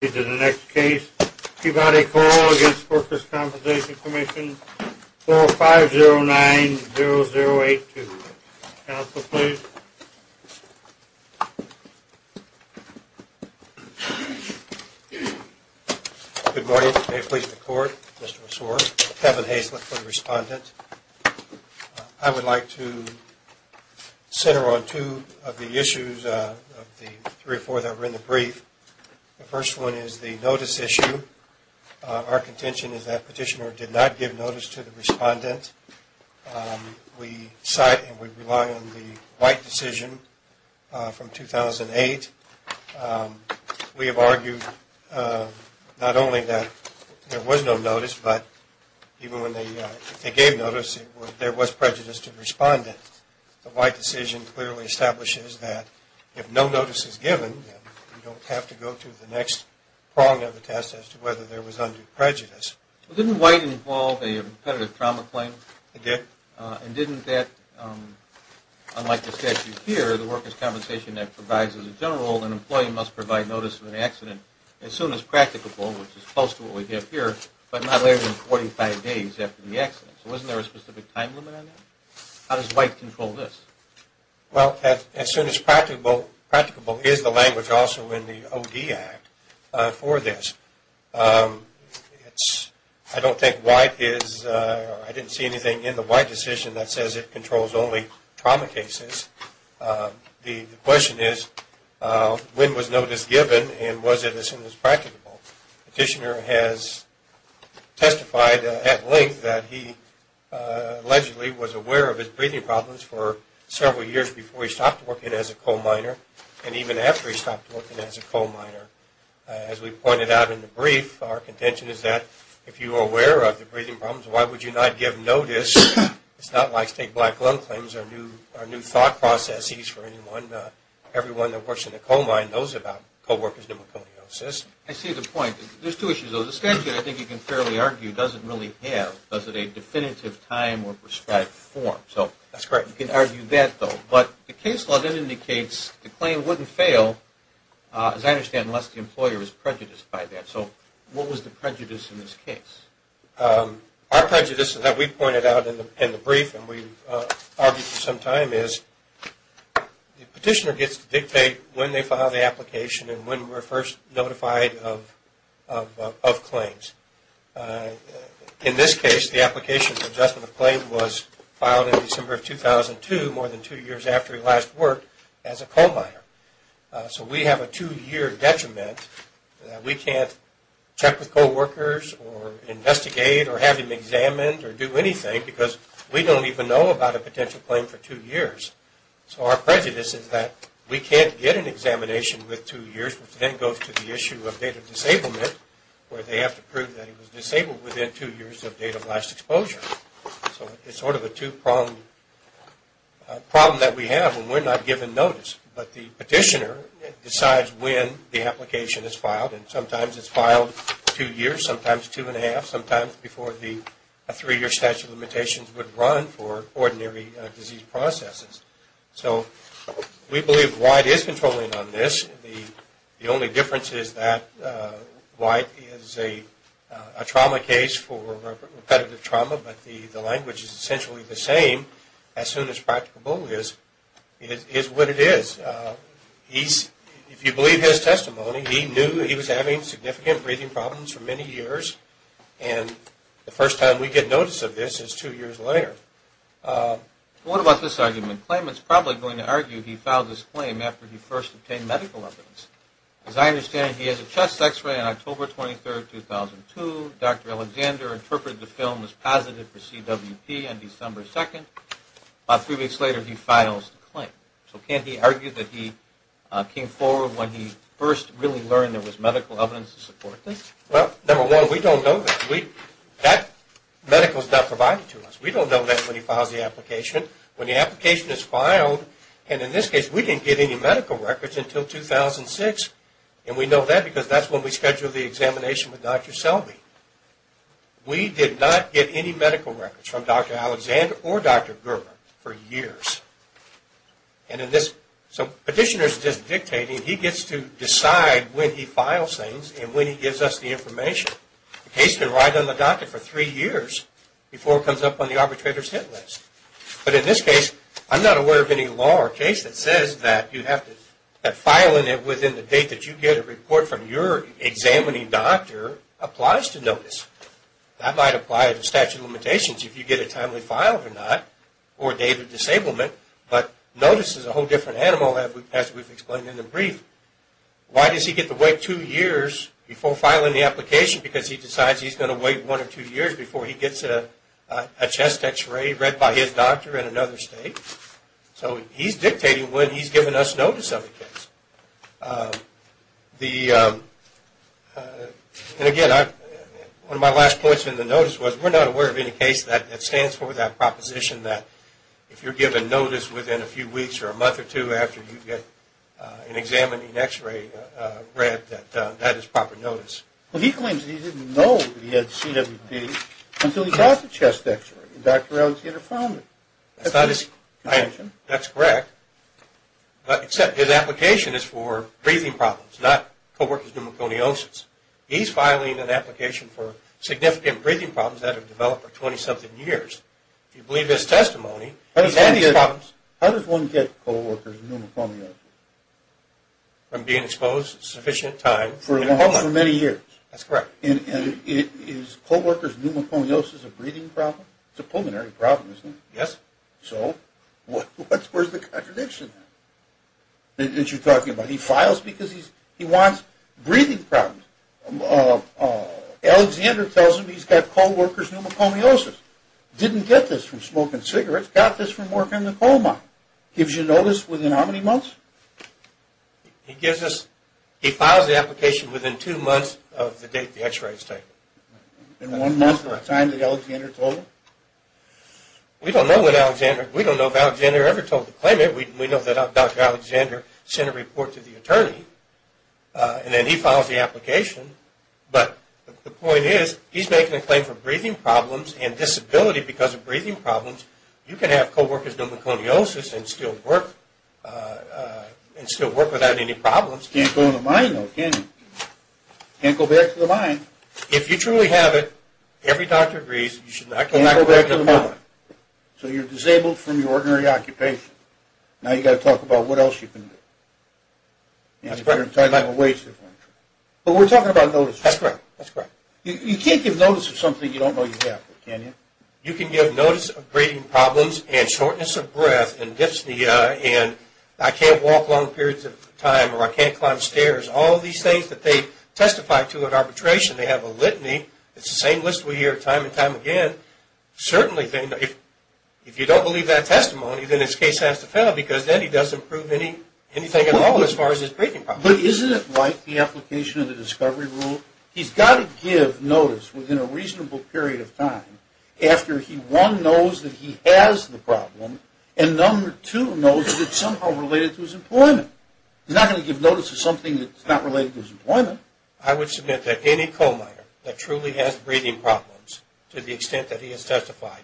This is the next case, Peabody Coal v. The Workers' Compensation Commission, 45090082. Counsel, please. Good morning. May it please the court, Mr. Osorio. Kevin Haislip for the respondent. I would like to center on two of the issues of the three or four that were in the brief. The first one is the notice issue. Our contention is that petitioner did not give notice to the respondent. We cite and we rely on the White decision from 2008. We have argued not only that there was no notice, but even when they gave notice, there was prejudice to the respondent. The White decision clearly establishes that if no notice is given, you don't have to go to the next prong of the test as to whether there was undue prejudice. Didn't White involve a competitive trauma claim? It did. And didn't that, unlike the statute here, the workers' compensation act provides as a general, an employee must provide notice of an accident as soon as practicable, which is close to what we have here, but not later than 45 days after the accident. So wasn't there a specific time limit on that? How does White control this? Well, as soon as practicable is the language also in the OD Act for this. I don't think White is, I didn't see anything in the White decision that says it controls only trauma cases. The question is, when was notice given and was it as soon as practicable? Petitioner has testified at length that he allegedly was aware of his breathing problems for several years before he stopped working as a coal miner and even after he stopped working as a coal miner. As we pointed out in the brief, our contention is that if you are aware of the breathing problems, why would you not give notice? It's not like state black loan claims are new thought processes for anyone. Everyone that works in a coal mine knows about coworkers' pneumoconiosis. I see the point. There's two issues. The statute, I think you can fairly argue, doesn't really have a definitive time or prescribed form. That's correct. You can argue that though, but the case law then indicates the claim wouldn't fail, as I understand, unless the employer is prejudiced by that. So what was the prejudice in this case? Our prejudice, as we pointed out in the brief and we've argued for some time, is the petitioner gets to dictate when they file the application and when we're first notified of claims. In this case, the application for adjustment of claim was filed in December of 2002, more than two years after he last worked as a coal miner. So we have a two-year detriment that we can't check with coworkers or investigate or have him examined or do anything because we don't even know about a potential claim for two years. So our prejudice is that we can't get an examination with two years, which then goes to the issue of date of disablement, where they have to prove that he was disabled within two years of date of last exposure. So it's sort of a two-pronged problem that we have when we're not given notice, but the petitioner decides when the application is filed and sometimes it's filed two years, sometimes two and a half, sometimes before the three-year statute of limitations would run for ordinary disease processes. So we believe White is controlling on this. The only difference is that White is a trauma case for repetitive trauma, but the language is essentially the same as soon as practical bullies is what it is. If you believe his testimony, he knew he was having significant breathing problems for many years and the first time we get notice of this is two years later. What about this argument? Claimants are probably going to argue he filed this claim after he first obtained medical evidence. As I understand it, he has a chest x-ray on October 23, 2002. Dr. Alexander interpreted the film as positive for CWP on December 2nd. About three weeks later, he files the claim. So can't he argue that he came forward when he first really learned there was medical evidence to support this? Well, number one, we don't know that. That medical is not provided to us. We don't know that when he files the application. When the application is filed, and in this case we didn't get any medical records until 2006, and we know that because that's when we scheduled the examination with Dr. Selby. We did not get any medical records from Dr. Alexander or Dr. Gerber for years. And in this, so petitioner is just dictating, he gets to decide when he files things and when he gives us the information. The case can ride on the doctor for three years before it comes up on the arbitrator's hit list. But in this case, I'm not aware of any law or case that says that you have to, that filing it within the date that you get a report from your examining doctor applies to notice. That might apply to statute of limitations if you get it timely filed or not, or date of disablement, but notice is a whole different animal as we've explained in the brief. Why does he get to wait two years before filing the application? Because he decides he's going to wait one or two years before he gets a chest x-ray read by his doctor in another state. So he's dictating when he's giving us notice of the case. The, and again, one of my last points in the notice was we're not aware of any case that stands for that proposition that if you're given notice within a few weeks or a month or two after you get an examining x-ray read that that is proper notice. Well, he claims he didn't know he had CWD until he got the chest x-ray. Dr. Alexander found it. That's not his, that's correct, except his application is for breathing problems, not co-worker's pneumoconiosis. He's filing an application for significant breathing problems that have developed for 20-something years. If you believe his testimony, he's had these problems. How does one get co-worker's pneumoconiosis? From being exposed a sufficient time. For a long, for many years. That's correct. And is co-worker's pneumoconiosis a breathing problem? It's a pulmonary problem, isn't it? Yes. So, what's, where's the contradiction? That you're talking about? He files because he's, he wants breathing problems. Alexander tells him he's got co-worker's pneumoconiosis. Didn't get this from smoking cigarettes, got this from working the coal mine. Gives you notice within how many months? He gives us, he files the application within two months of the date the x-rays take. In one month or a time that Alexander told him? We don't know what Alexander, we don't know if Alexander ever told the claimant. We know that Dr. Alexander sent a report to the attorney, and then he files the application. But, the point is, he's making a claim for breathing problems and disability because of breathing problems. You can have co-worker's pneumoconiosis and still work, and still work without any problems. Can't go in the mine though, can you? Can't go back to the mine. If you truly have it, every doctor agrees, you should not go back to the mine. So, you're disabled from your ordinary occupation. Now, you got to talk about what else you can do. That's correct. You're going to have a waste of money. But, we're talking about notices. That's correct. You can't give notice of something you don't know you have, can you? You can give notice of breathing problems, and shortness of breath, and dyspnea, and I can't walk long periods of time, or I can't climb stairs. All these things that they testify to at arbitration, they have a litany. It's the same list we hear time and time again. Certainly, if you don't believe that testimony, then this case has to fail, because then he doesn't prove anything at all as far as his breathing problems. But, isn't it like the application of the discovery rule? He's got to give notice within a reasonable period of time, after he, one, knows that he has the problem, and, number two, knows that it's somehow related to his employment. He's not going to give notice of something that's not related to his employment. I would submit that any coal miner that truly has breathing problems, to the extent that he has testified,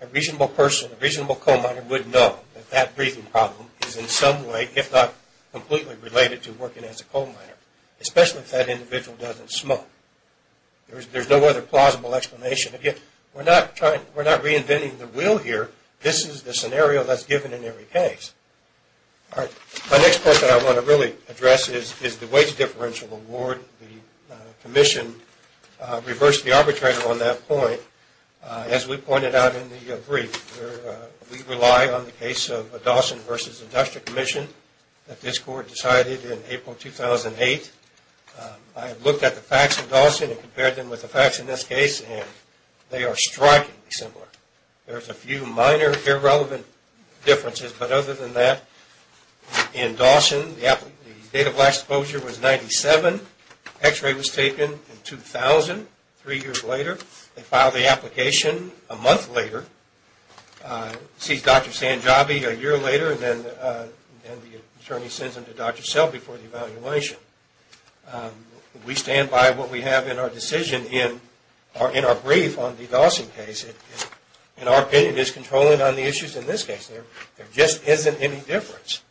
a reasonable person, a reasonable coal miner would know that that breathing problem is in some way, if not completely related to working as a coal miner, especially if that individual doesn't smoke. There's no other plausible explanation. Again, we're not reinventing the wheel here. This is the scenario that's given in every case. My next point that I want to really address is the wage differential award. The commission reversed the arbitration on that point. As we pointed out in the brief, we rely on the case of Dawson v. Industrial Commission that this court decided in April 2008. I looked at the facts of Dawson and compared them with the facts in this case, and they are strikingly similar. There's a few minor irrelevant differences, but other than that, in Dawson, the date of last closure was 97. X-ray was taken in 2000, three years later. They filed the application a month later, seized Dr. Sanjabi a year later, and then the attorney sends him to Dr. Selby for the evaluation. We stand by what we have in our decision in our brief on the Dawson case. In our opinion, it's controlling on the issues in this case. There just isn't any difference.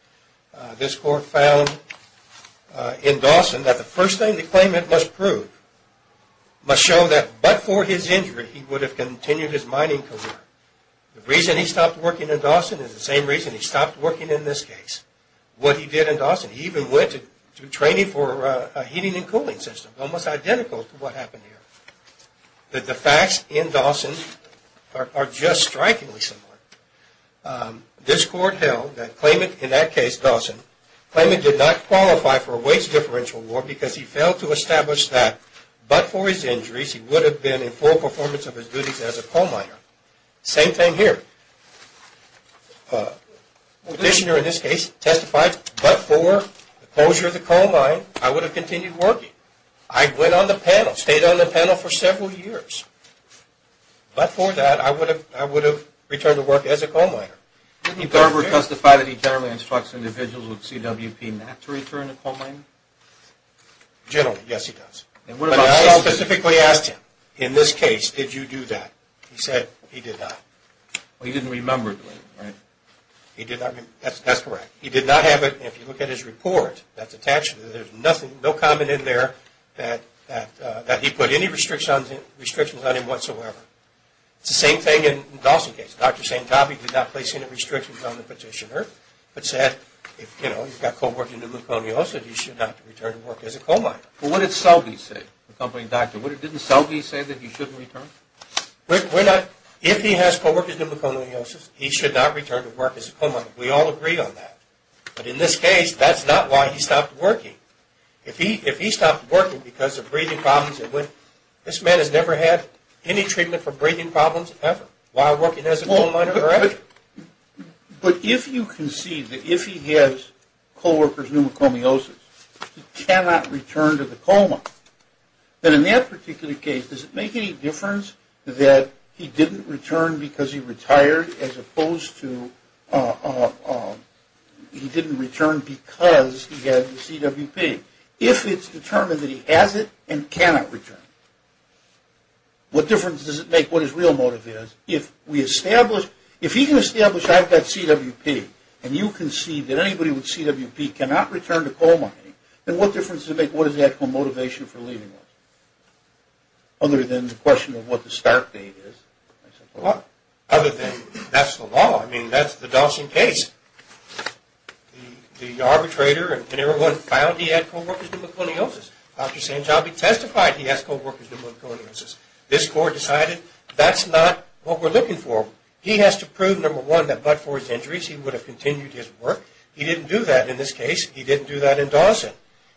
This court found in Dawson that the first thing the claimant must prove must show that but for his injury, he would have continued his mining career. The reason he stopped working in Dawson is the same reason he stopped working in this case. What he did in Dawson, he even went to training for a heating and cooling system, almost identical to what happened here. The facts in Dawson are just strikingly similar. This court held that claimant, in that case Dawson, claimant did not qualify for a waste differential award because he failed to establish that but for his injuries, he would have been in full performance of his duties as a coal miner. Same thing here. The petitioner in this case testified, but for the closure of the coal mine, I would have continued working. I went on the panel, stayed on the panel for several years. But for that, I would have returned to work as a coal miner. Didn't Garber testify that he generally instructs individuals with CWP not to return to coal mining? Generally, yes he does. I specifically asked him, in this case, did you do that? He said he did not. He didn't remember doing it, right? That's correct. He did not have it. If you look at his report, there's no comment in there that he put any restrictions on him whatsoever. It's the same thing in Dawson's case. Dr. Santabi did not place any restrictions on the petitioner but said, you know, he's got co-working pneumoconiosis, he should not return to work as a coal miner. What did Selby say? Didn't Selby say that he shouldn't return? If he has co-working pneumoconiosis, he should not return to work as a coal miner. We all agree on that. But in this case, that's not why he stopped working. If he stopped working because of breathing problems, this man has never had any treatment for breathing problems ever while working as a coal miner. But if you concede that if he has co-working pneumoconiosis, he cannot return to the coal mine, then in that particular case, does it make any difference that he didn't return because he retired as opposed to he didn't return because he had CWP? If it's determined that he has it and cannot return, what difference does it make what his real motive is? If he can establish I've got CWP and you concede that anybody with CWP cannot return to coal mining, then what difference does it make what his actual motivation for leaving was? Other than the question of what the start date is. Other than that's the law. I mean, that's the Dawson case. The arbitrator and everyone found he had CWP. Dr. Sanjabi testified he had CWP. This court decided that's not what we're looking for. He has to prove, number one, that but for his injuries he would have continued his work. He didn't do that in this case. He didn't do that in Dawson.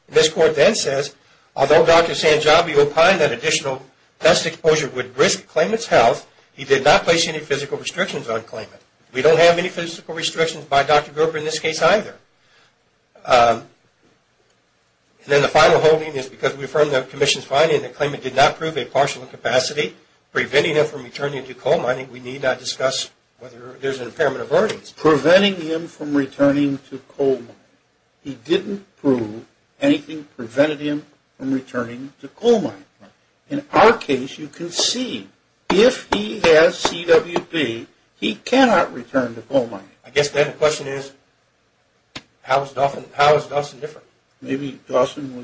This court then says, although Dr. Sanjabi opined that additional dust exposure would risk claimant's health, he did not place any physical restrictions on claimant. We don't have any physical restrictions by Dr. Gruber in this case either. And then the final holding is because we affirm the commission's finding that claimant did not prove a partial incapacity preventing him from returning to coal mining we need not discuss whether there's an impairment of earnings. Preventing him from returning to coal mining. He didn't prove anything prevented him from returning to coal mining. In our case you can see if he has CWP he cannot return to coal mining. I guess then the question is how is Dawson different? Maybe Dawson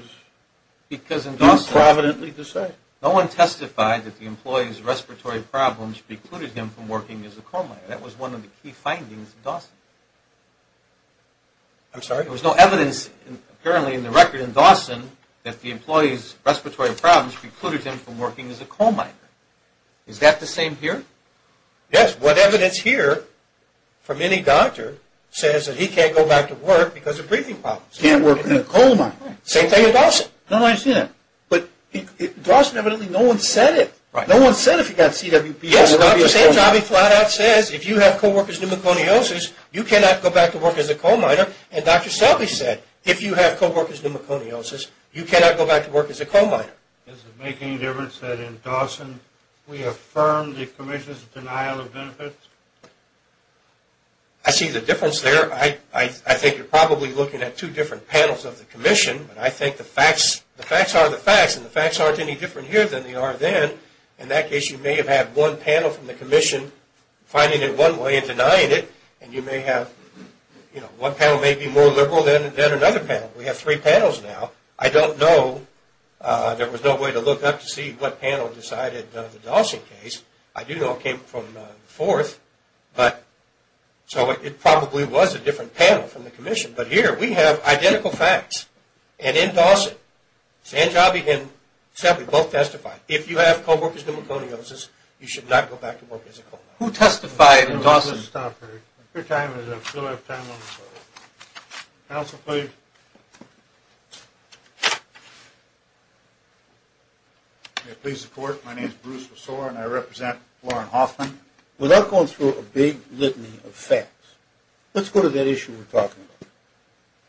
was providently decided. No one testified that the employee's respiratory problems precluded him from working as a coal miner. That was one of the key findings in Dawson. I'm sorry? There was no evidence apparently in the record in Dawson that the employee's respiratory problems precluded him from working as a coal miner. Is that the same here? Yes, what evidence here from any doctor says that he can't go back to work because of breathing problems. He can't work in a coal mine. Same thing with Dawson. Dawson evidently no one said it. Yes, Dr. Sanjabi flat out says if you have co-worker's pneumoconiosis you cannot go back to work as a coal miner. Dr. Selby said if you have co-worker's pneumoconiosis you cannot go back to work as a coal miner. Does it make any difference that in Dawson we affirm the Commission's denial of benefits? I see the difference there. I think you're probably looking at two different panels of the Commission. I think the facts are the facts and the facts aren't any different here than they are then. In that case you may have had one panel from the Commission finding it one way and denying it. One panel may be more liberal than another panel. We have three panels now. I don't know, there was no way to look up to see what panel decided the Dawson case. I do know it came from the fourth. So it probably was a different panel from the Commission. Here we have identical facts. In Dawson, Selby and Sanjabi both testified. If you have co-worker's pneumoconiosis you should not go back to work as a coal miner. Let's go to that issue we were talking about.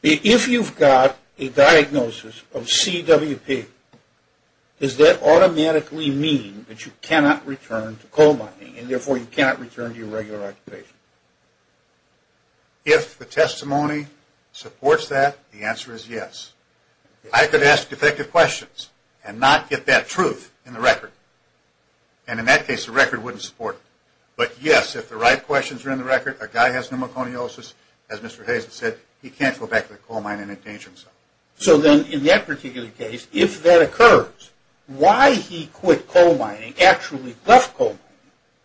If you've got a diagnosis of CWP does that automatically mean that you cannot return to coal mining and therefore you cannot return to your regular occupation? If the testimony supports that the answer is yes. I could ask defective questions and not get that truth in the record and in that case the record wouldn't support it. But yes, if the right questions are in the record a guy has pneumoconiosis, as Mr. Hazlett said he can't go back to the coal mine and endanger himself. So then in that particular case, if that occurs why he quit coal mining and actually left coal mining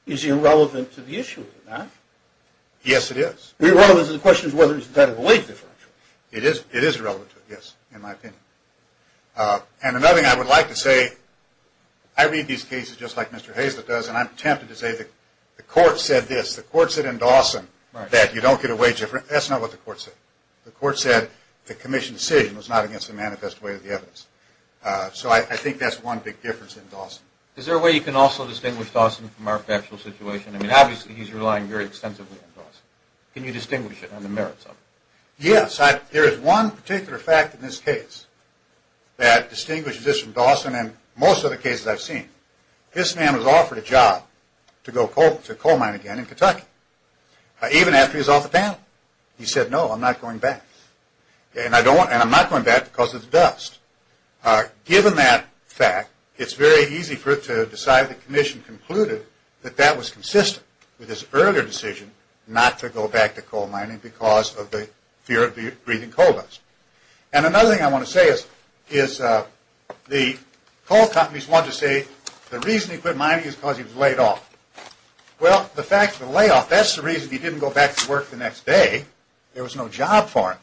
is irrelevant to the issue, is it not? Yes, it is. Irrelevant to the question of whether he is entitled to a wage differential? It is irrelevant to it, yes, in my opinion. And another thing I would like to say I read these cases just like Mr. Hazlett does and I'm tempted to say the court said this, the court said in Dawson that you don't get a wage differential. That's not what the court said. The court said the commission's decision was not against the manifest way of the evidence. So I think that's one big difference in Dawson. Is there a way you can also distinguish Dawson from our factual situation? I mean obviously he's relying very extensively on Dawson. Can you distinguish it and the merits of it? Yes, there is one particular fact in this case that distinguishes this from Dawson and most other cases I've seen. This man was offered a job to go to coal mine again in Kentucky even after he was off the panel. He said no, I'm not going back. And I'm not going back because of the dust. Given that fact, it's very easy for it to decide the commission concluded that that was consistent with his earlier decision not to go back to coal mining because of the fear of the breathing coal dust. And another thing I want to say is the coal companies want to say the reason he quit mining is because he was laid off. Well, the fact of the layoff, that's the reason he didn't go back to work the next day. There was no job for him.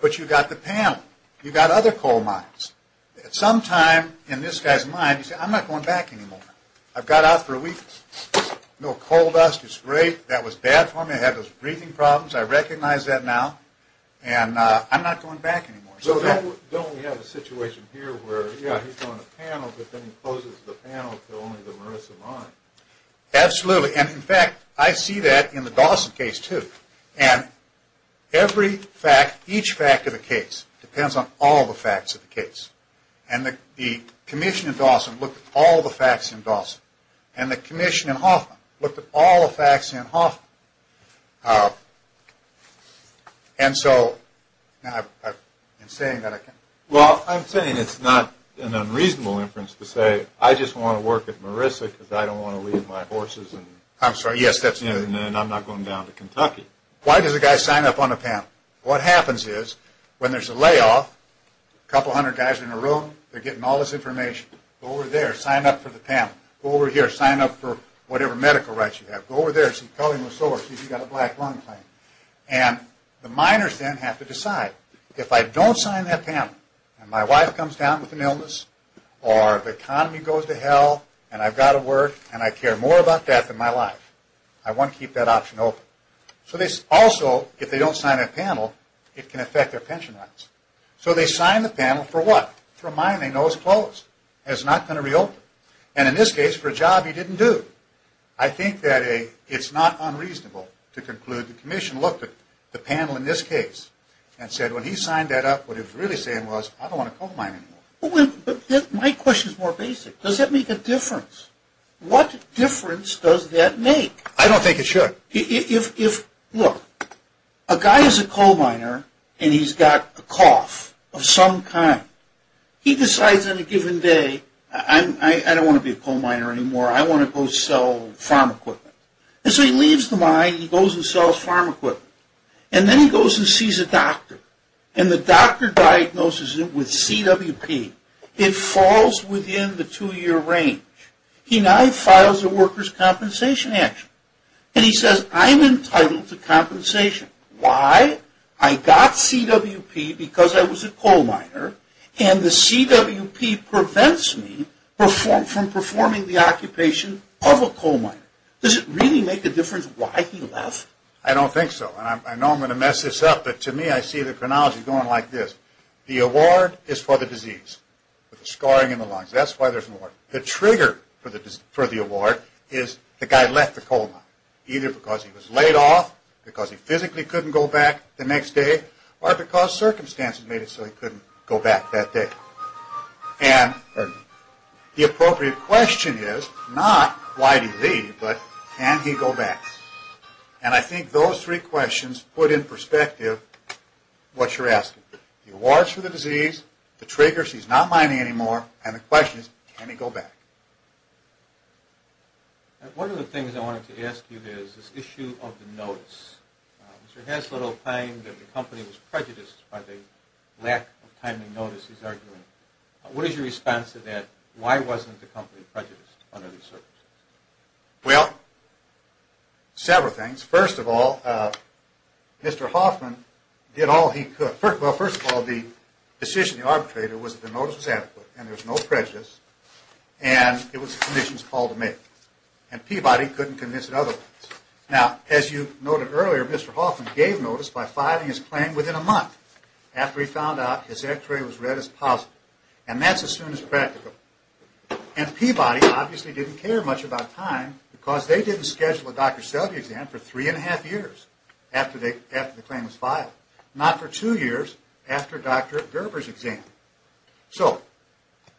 But you've got the panel. You've got other coal mines. At some time in this guy's mind, he said I'm not going back anymore. I've got out for a week. No coal dust. It's great. That was bad for me. I had those breathing problems. I recognize that now. And I'm not going back anymore. So don't we have a situation here where he's on the panel, but then he closes the panel to only the Marissa mine? Absolutely. And in fact, I see that in the Dawson case too. And every fact, each fact of the case depends on all the facts of the case. And the commission in Dawson looked at all the facts in Dawson. And the commission in Hoffman looked at all the facts in Hoffman. And so Well, I'm saying it's not an unreasonable inference to say I just want to work at Marissa because I don't want to leave my horses and I'm not going down to Kentucky. Why does a guy sign up on a panel? What happens is, when there's a layoff a couple hundred guys in a room. They're getting all this information. Go over there. Sign up for the panel. Go over here. Sign up for whatever medical rights you have. Go over there. Call him a soarer. See if he's got a black lung plan. And the miners then have to decide. If I don't sign that panel and my wife comes down with an illness or the economy goes to hell and I've got to work and I care more about that than my life. I want to keep that option open. Also, if they don't sign that panel it can affect their pension rights. So they sign the panel for what? For mining those clothes. It's not going to reopen. And in this case for a job he didn't do. I think that it's not unreasonable to conclude the commission looked at the panel in this case and said when he signed that up what he was really saying was I don't want to coal mine anymore. My question is more basic. Does that make a difference? What difference does that make? I don't think it should. Look, a guy is a coal miner and he's got a cough of some kind. He decides on a given day I don't want to be a coal miner anymore I want to go sell farm equipment. So he leaves the mine. He goes and sells farm equipment. And then he goes and sees a doctor. And the doctor diagnoses him with CWP. It falls within the two year range. He now files a worker's compensation action. And he says I'm entitled to compensation. Why? I got CWP because I was a coal miner and the CWP prevents me from performing the occupation of a coal miner. Does it really make a difference why he left? I don't think so. I know I'm going to mess this up but to me I see the chronology going like this. The award is for the disease. The scarring in the lungs. That's why there's an award. The trigger for the award is the guy left the coal mine. Either because he was laid off, because he physically couldn't go back the next day, or because circumstances made it so he couldn't go back that day. And the appropriate question is not why did he leave but can he go back? And I think those three questions put in perspective what you're asking. The award is for the disease, the trigger is he's not mining anymore, and the question is can he go back? One of the things I wanted to ask you is this issue of the notice. Mr. Haslund opined that the company was prejudiced by the lack of timely notices. What is your response to that? Why wasn't the company prejudiced under these circumstances? Well, several things. First of all, Mr. Hoffman did all he could. Well, first of all, the decision of the arbitrator was that the notice was adequate and there was no prejudice and it was the commission's call to make. And Peabody couldn't convince it otherwise. Now, as you noted earlier, Mr. Hoffman gave notice by filing his claim within a month after he found out his x-ray was read as positive. And that's as soon as practical. And Peabody obviously didn't care much about time because they didn't schedule a Dr. Selde exam for three and a half years after the claim was filed. Not for two years after Dr. Gerber's exam. So,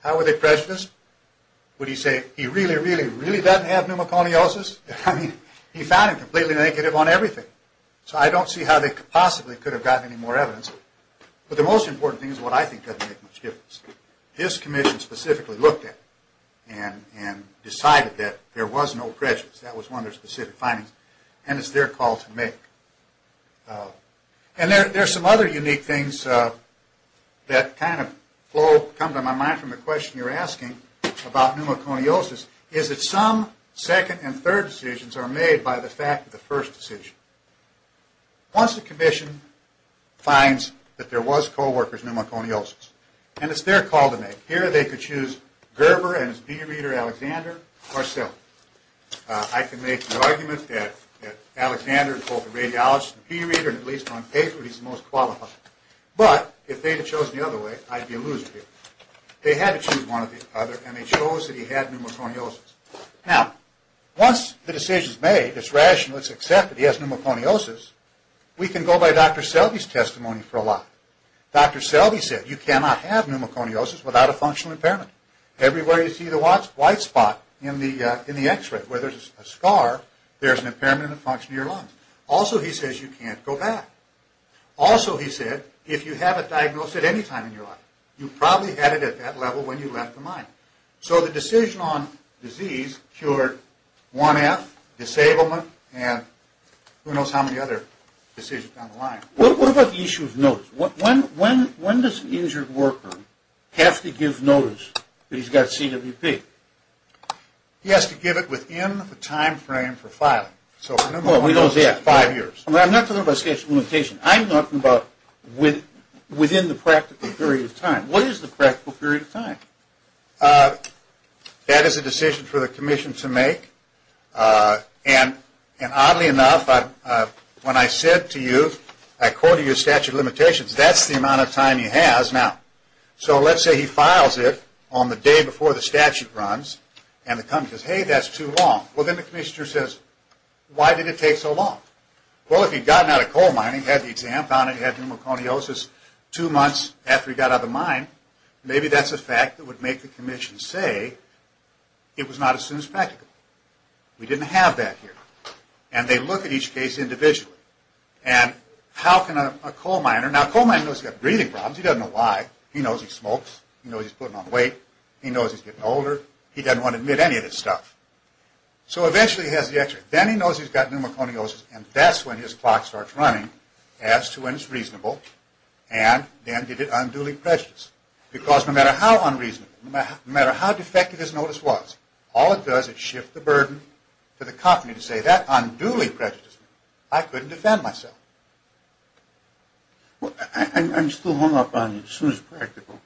how were they prejudiced? Would he say he really, really, really doesn't have pneumoconiosis? He found him completely negative on everything. So I don't see how they possibly could have gotten any more evidence. But the most important thing is what I specifically looked at and decided that there was no prejudice. That was one of their specific findings. And it's their call to make. And there are some other unique things that kind of come to my mind from the question you're asking about pneumoconiosis is that some second and third decisions are made by the commission finds that there was co-workers pneumoconiosis. And it's their call to make. Here they could choose Gerber and his peer reader Alexander or Selde. I can make the argument that Alexander is both a radiologist and peer reader and at least on paper he's the most qualified. But, if they had chosen the other way, I'd be a loser here. They had to choose one or the other and they chose that he had pneumoconiosis. Now, once the decision is made, it's rational, it's accepted, he has pneumoconiosis, we can go by Dr. Selde said, you cannot have pneumoconiosis without a functional impairment. Everywhere you see the white spot in the X-ray where there's a scar, there's an impairment in the function of your lungs. Also, he says, you can't go back. Also, he said, if you have it diagnosed at any time in your life you probably had it at that level when you left the mine. So, the decision on disease cured 1F, disablement, and who knows how many other decisions down the line. What about the issue of notice? When does an injured worker have to give notice that he's got CWP? He has to give it within the time frame for filing. I'm not talking about statute of limitations. I'm talking about within the practical period of time. What is the practical period of time? That is a decision for the commission to make and oddly enough when I quoted you a statute of limitations that's the amount of time he has now. So, let's say he files it on the day before the statute runs and the commission says, hey, that's too long. Well, then the commission says, why did it take so long? Well, if he'd gotten out of coal mining, had the exam found and had pneumoconiosis two months after he got out of the mine maybe that's a fact that would make the commission say it was not as soon as practical. We didn't have that here. And they look at each case individually. And how can a coal miner, now a coal miner knows he's got breathing problems he doesn't know why, he knows he smokes, he knows he's putting on weight he knows he's getting older, he doesn't want to admit any of this stuff. So, eventually he has the answer. Then he knows he's got pneumoconiosis and that's when his clock starts running as to when it's reasonable and then did it unduly precious. Because no matter how unreasonable no matter how defective his notice was all it does is shift the burden to the company to say that unduly prejudiced I couldn't defend myself. I'm still hung up on soon as practical.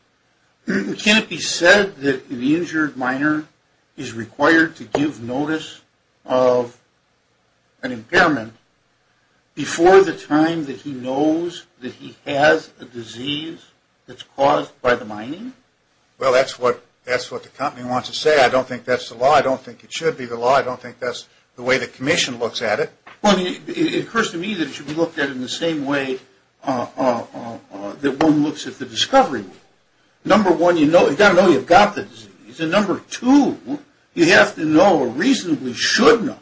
Can it be said that an injured miner is required to give notice of an impairment before the time that he knows that he has a disease that's caused by the mining? Well, that's what the company wants to say. I don't think that's the law, I don't think it should be the law I don't think that's the way the commission looks at it. Well, it occurs to me that it should be looked at in the same way that one looks at the discovery. Number one, you've got to know you've got the disease and number two, you have to know or reasonably should know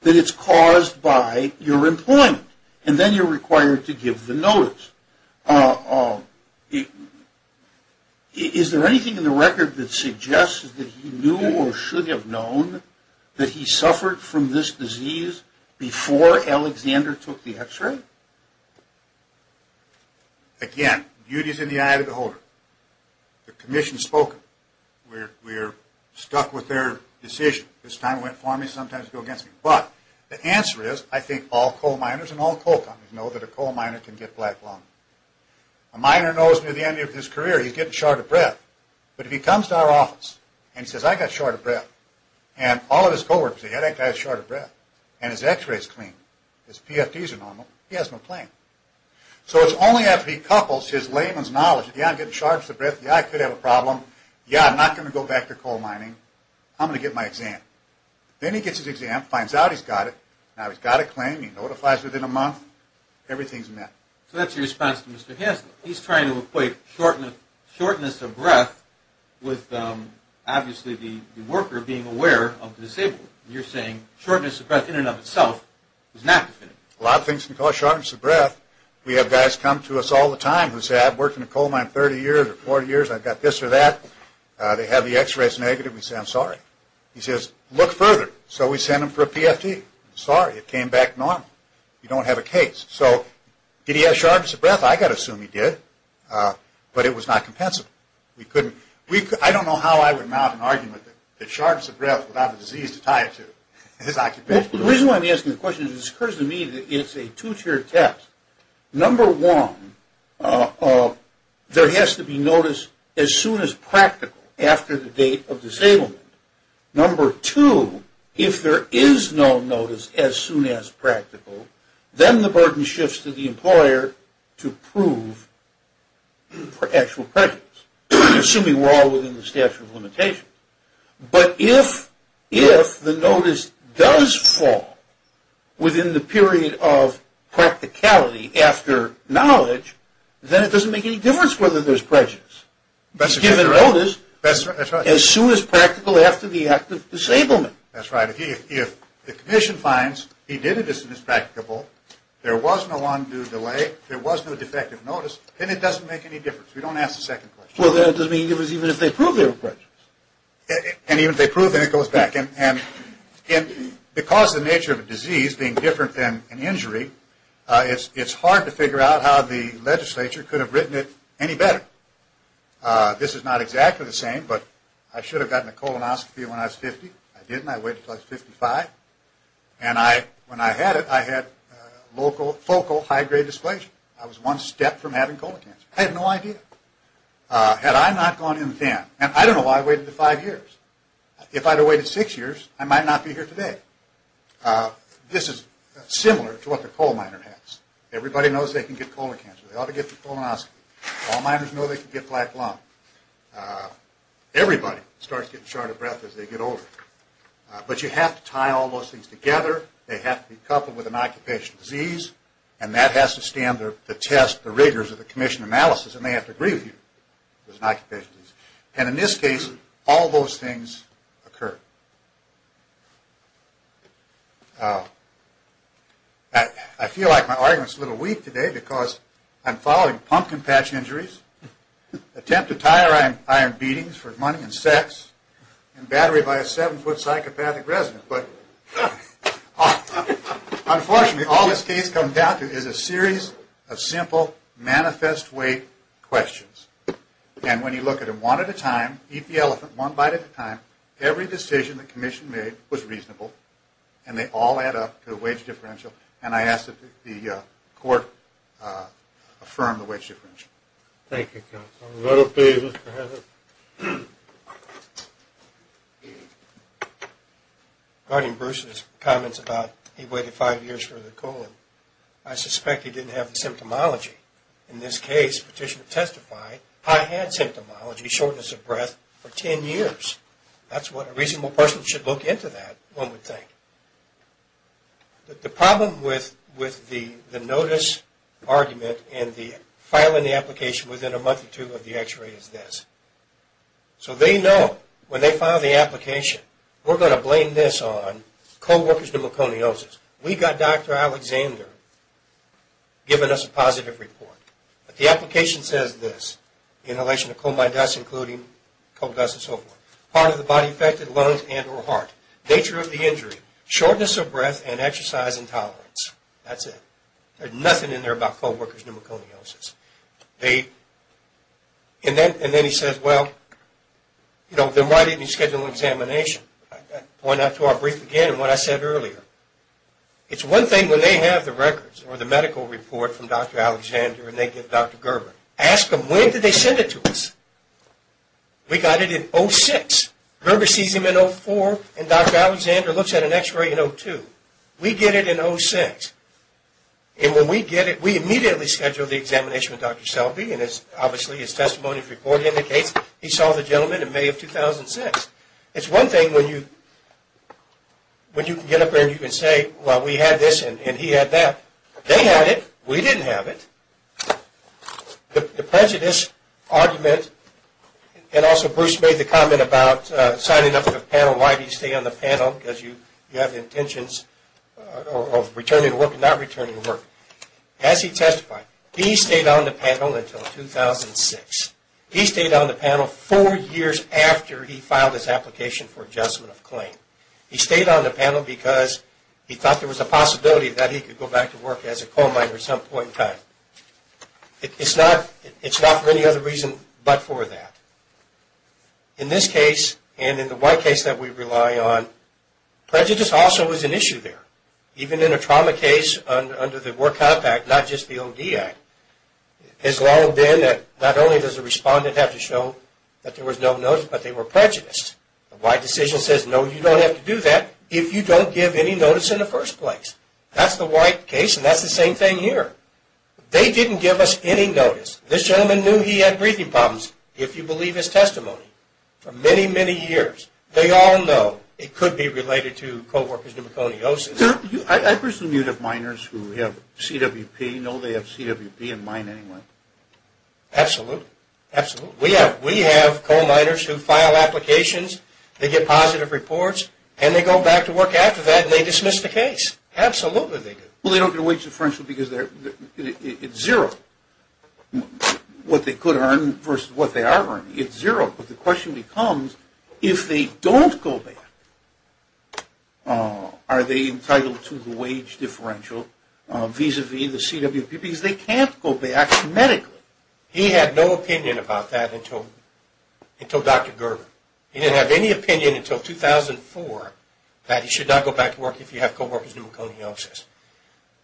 that it's caused by your employment and then you're required to give the notice. Is there anything in the record that suggests that he knew or should have known that he suffered from this disease before Alexander took the x-ray? Again, duty is in the eye of the beholder. The commission has spoken. We're stuck with their decision. The answer is I think all coal miners and all coal companies know that a coal miner can get black lung. A miner knows near the end of his career he's getting short of breath but if he comes to our office and says I've got short of breath and all of his co-workers say I've got short of breath and his x-ray is clean and his PFDs are normal, he has no claim. So it's only after he couples his layman's knowledge yeah I'm getting short of breath, yeah I could have a problem yeah I'm not going to go back to coal mining I'm going to get my exam. Then he gets his exam, finds out he's got it now he's got a claim, he notifies within a month everything's met. So that's your response to Mr. Hansen. He's trying to equate shortness of breath with obviously the worker being aware of the disabled. You're saying shortness of breath in and of itself is not definitive. A lot of things can cause shortness of breath. We have guys come to us all the time who say I've worked in a coal mine 30 years or 40 years I've got this or that, they have the x-rays negative and we say I'm sorry, he says look further so we send him for a PFD, sorry it came back normal you don't have a case, so did he have shortness of breath I've got to assume he did, but it was not compensable I don't know how I would mount an argument that shortness of breath without a disease to tie it to his occupation. The reason why I'm asking the question is it occurs to me that it's a two tiered test. Number one, there has to be notice as soon as practical after the date of disablement. Number two, if there is no notice as soon as practical then the burden shifts to the employer to prove for actual prejudice assuming we're all within the statute of limitations but if the notice does fall within the period of practicality after knowledge, then it doesn't make any difference whether there's prejudice. It's given notice as soon as practical after the act of disablement. That's right, if the condition finds he did exist in his practicable there was no undue delay, there was no defective notice then it doesn't make any difference, we don't ask the second question. Well then it doesn't make any difference even if they prove there was prejudice. And even if they prove then it goes back and because the nature of a disease being different than an injury, it's hard to figure out how the legislature could have written it any better. This is not exactly the same but I should have gotten a colonoscopy when I was 50 I didn't, I waited until I was 55 and when I had it I had focal high grade dysplasia I was one step from having colon cancer, I had no idea. Had I not gone in then and I don't know why I waited 5 years if I had waited 6 years I might not be here today. This is similar to what the coal miner has everybody knows they can get colon cancer, they ought to get the colonoscopy all miners know they can get black lung everybody starts getting short of breath as they get older but you have to tie all those things together they have to be coupled with an occupational disease and that has to stand the test, the rigors of the commission analysis and they have to agree with you and in this case all those things occur. I feel like my argument is a little weak today because I'm following pumpkin patch injuries attempted tire iron beatings for money and sex and battery by a 7 foot psychopathic resident but unfortunately all this case comes down to is a series of simple manifest weight questions and when you look at them one at a time eat the elephant one bite at a time every decision the commission made was reasonable and they all add up to a wage differential and I ask that the court affirm the wage differential. Thank you counsel. Regarding Bruce's comments about he waited 5 years for the colon I suspect he didn't have the symptomology in this case petitioner testified I had symptomology, shortness of breath for 10 years that's what a reasonable person should look into that one would think the problem with the notice argument and the filing the application within a month or two of the x-ray is this so they know when they file the application we're going to blame this on co-workers pneumoconiosis we've got Dr. Alexander giving us a positive report but the application says this inhalation of coal dust including coal dust and so forth part of the body affected lungs and or heart nature of the injury, shortness of breath and exercise intolerance that's it there's nothing in there about co-workers pneumoconiosis and then he says why didn't you schedule an examination I point out to our brief again what I said earlier it's one thing when they have the records or the medical report from Dr. Alexander and they give Dr. Gerber ask them when did they send it to us we got it in 06, Gerber sees him in 04 and Dr. Alexander looks at an x-ray in 02 we get it in 06 and when we get it we immediately schedule the examination with Dr. Selby and obviously his testimonies report indicates he saw the gentleman in May of 2006 it's one thing when you when you can get up there and say well we had this and he had that they had it, we didn't have it the prejudice argument and also Bruce made the comment about signing up for the panel why did he stay on the panel because you have intentions of returning to work and not returning to work as he testified he stayed on the panel until 2006 he stayed on the panel 4 years after he filed his application for adjustment of claim he stayed on the panel because he thought there was a possibility that he could go back to work as a coal miner at some point in time it's not for any other reason but for that in this case and in the white case that we rely on prejudice also is an issue there even in a trauma case under the Work Compact not just the OD Act not only does the respondent have to show that there was no notice but they were prejudiced the white decision says no you don't have to do that if you don't give any notice in the first place that's the white case and that's the same thing here they didn't give us any notice this gentleman knew he had breathing problems if you believe his testimony for many many years they all know it could be related to co-workers pneumoconiosis I presume you have miners who have CWP do we know they have CWP in mine anyway? absolutely we have coal miners who file applications they get positive reports and they go back to work after that and they dismiss the case they don't get a wage differential because it's zero what they could earn versus what they are earning it's zero but the question becomes if they don't go back are they entitled to the wage differential vis-a-vis the CWP because they can't go back medically he had no opinion about that until Dr. Gerber he didn't have any opinion until 2004 that he should not go back to work if he had co-workers pneumoconiosis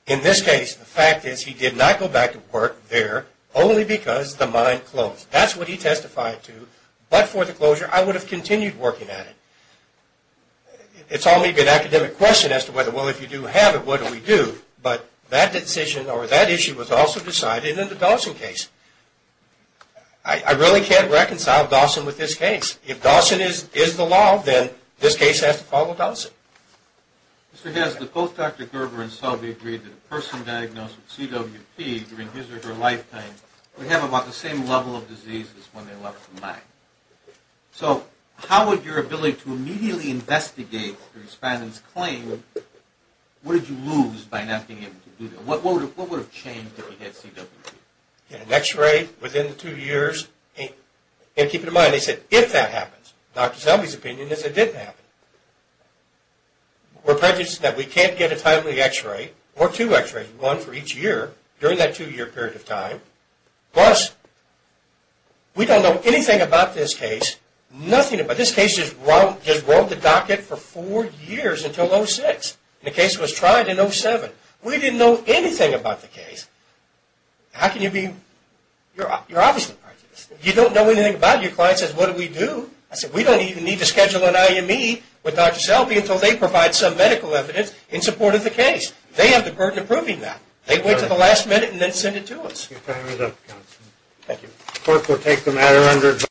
in this case the fact is he did not go back to work there only because the mine closed that's what he testified to but for the closure I would have continued working at it it's only an academic question if you do have it what do we do that issue was also decided in the Dawson case I really can't reconcile Dawson with this case if Dawson is the law then this case has to follow Dawson both Dr. Gerber and Selby agreed that a person diagnosed with CWP during his or her lifetime we have about the same level of diseases when they left the mine so how would your ability to immediately investigate the respondent's claim what did you lose by not being able to do that what would have changed if you had CWP an x-ray within two years keep in mind they said if that happens Dr. Selby's opinion is it didn't happen we're prejudiced that we can't get a timely x-ray or two x-rays one for each year during that two year period of time plus we don't know anything about this case this case just rolled the docket for four years until 06 the case was tried in 07 we didn't know anything about the case you're obviously prejudiced you don't know anything about it your client says what do we do we don't even need to schedule an IME with Dr. Selby until they provide some medical evidence in support of the case they have the burden of proving that they wait until the last minute and send it to us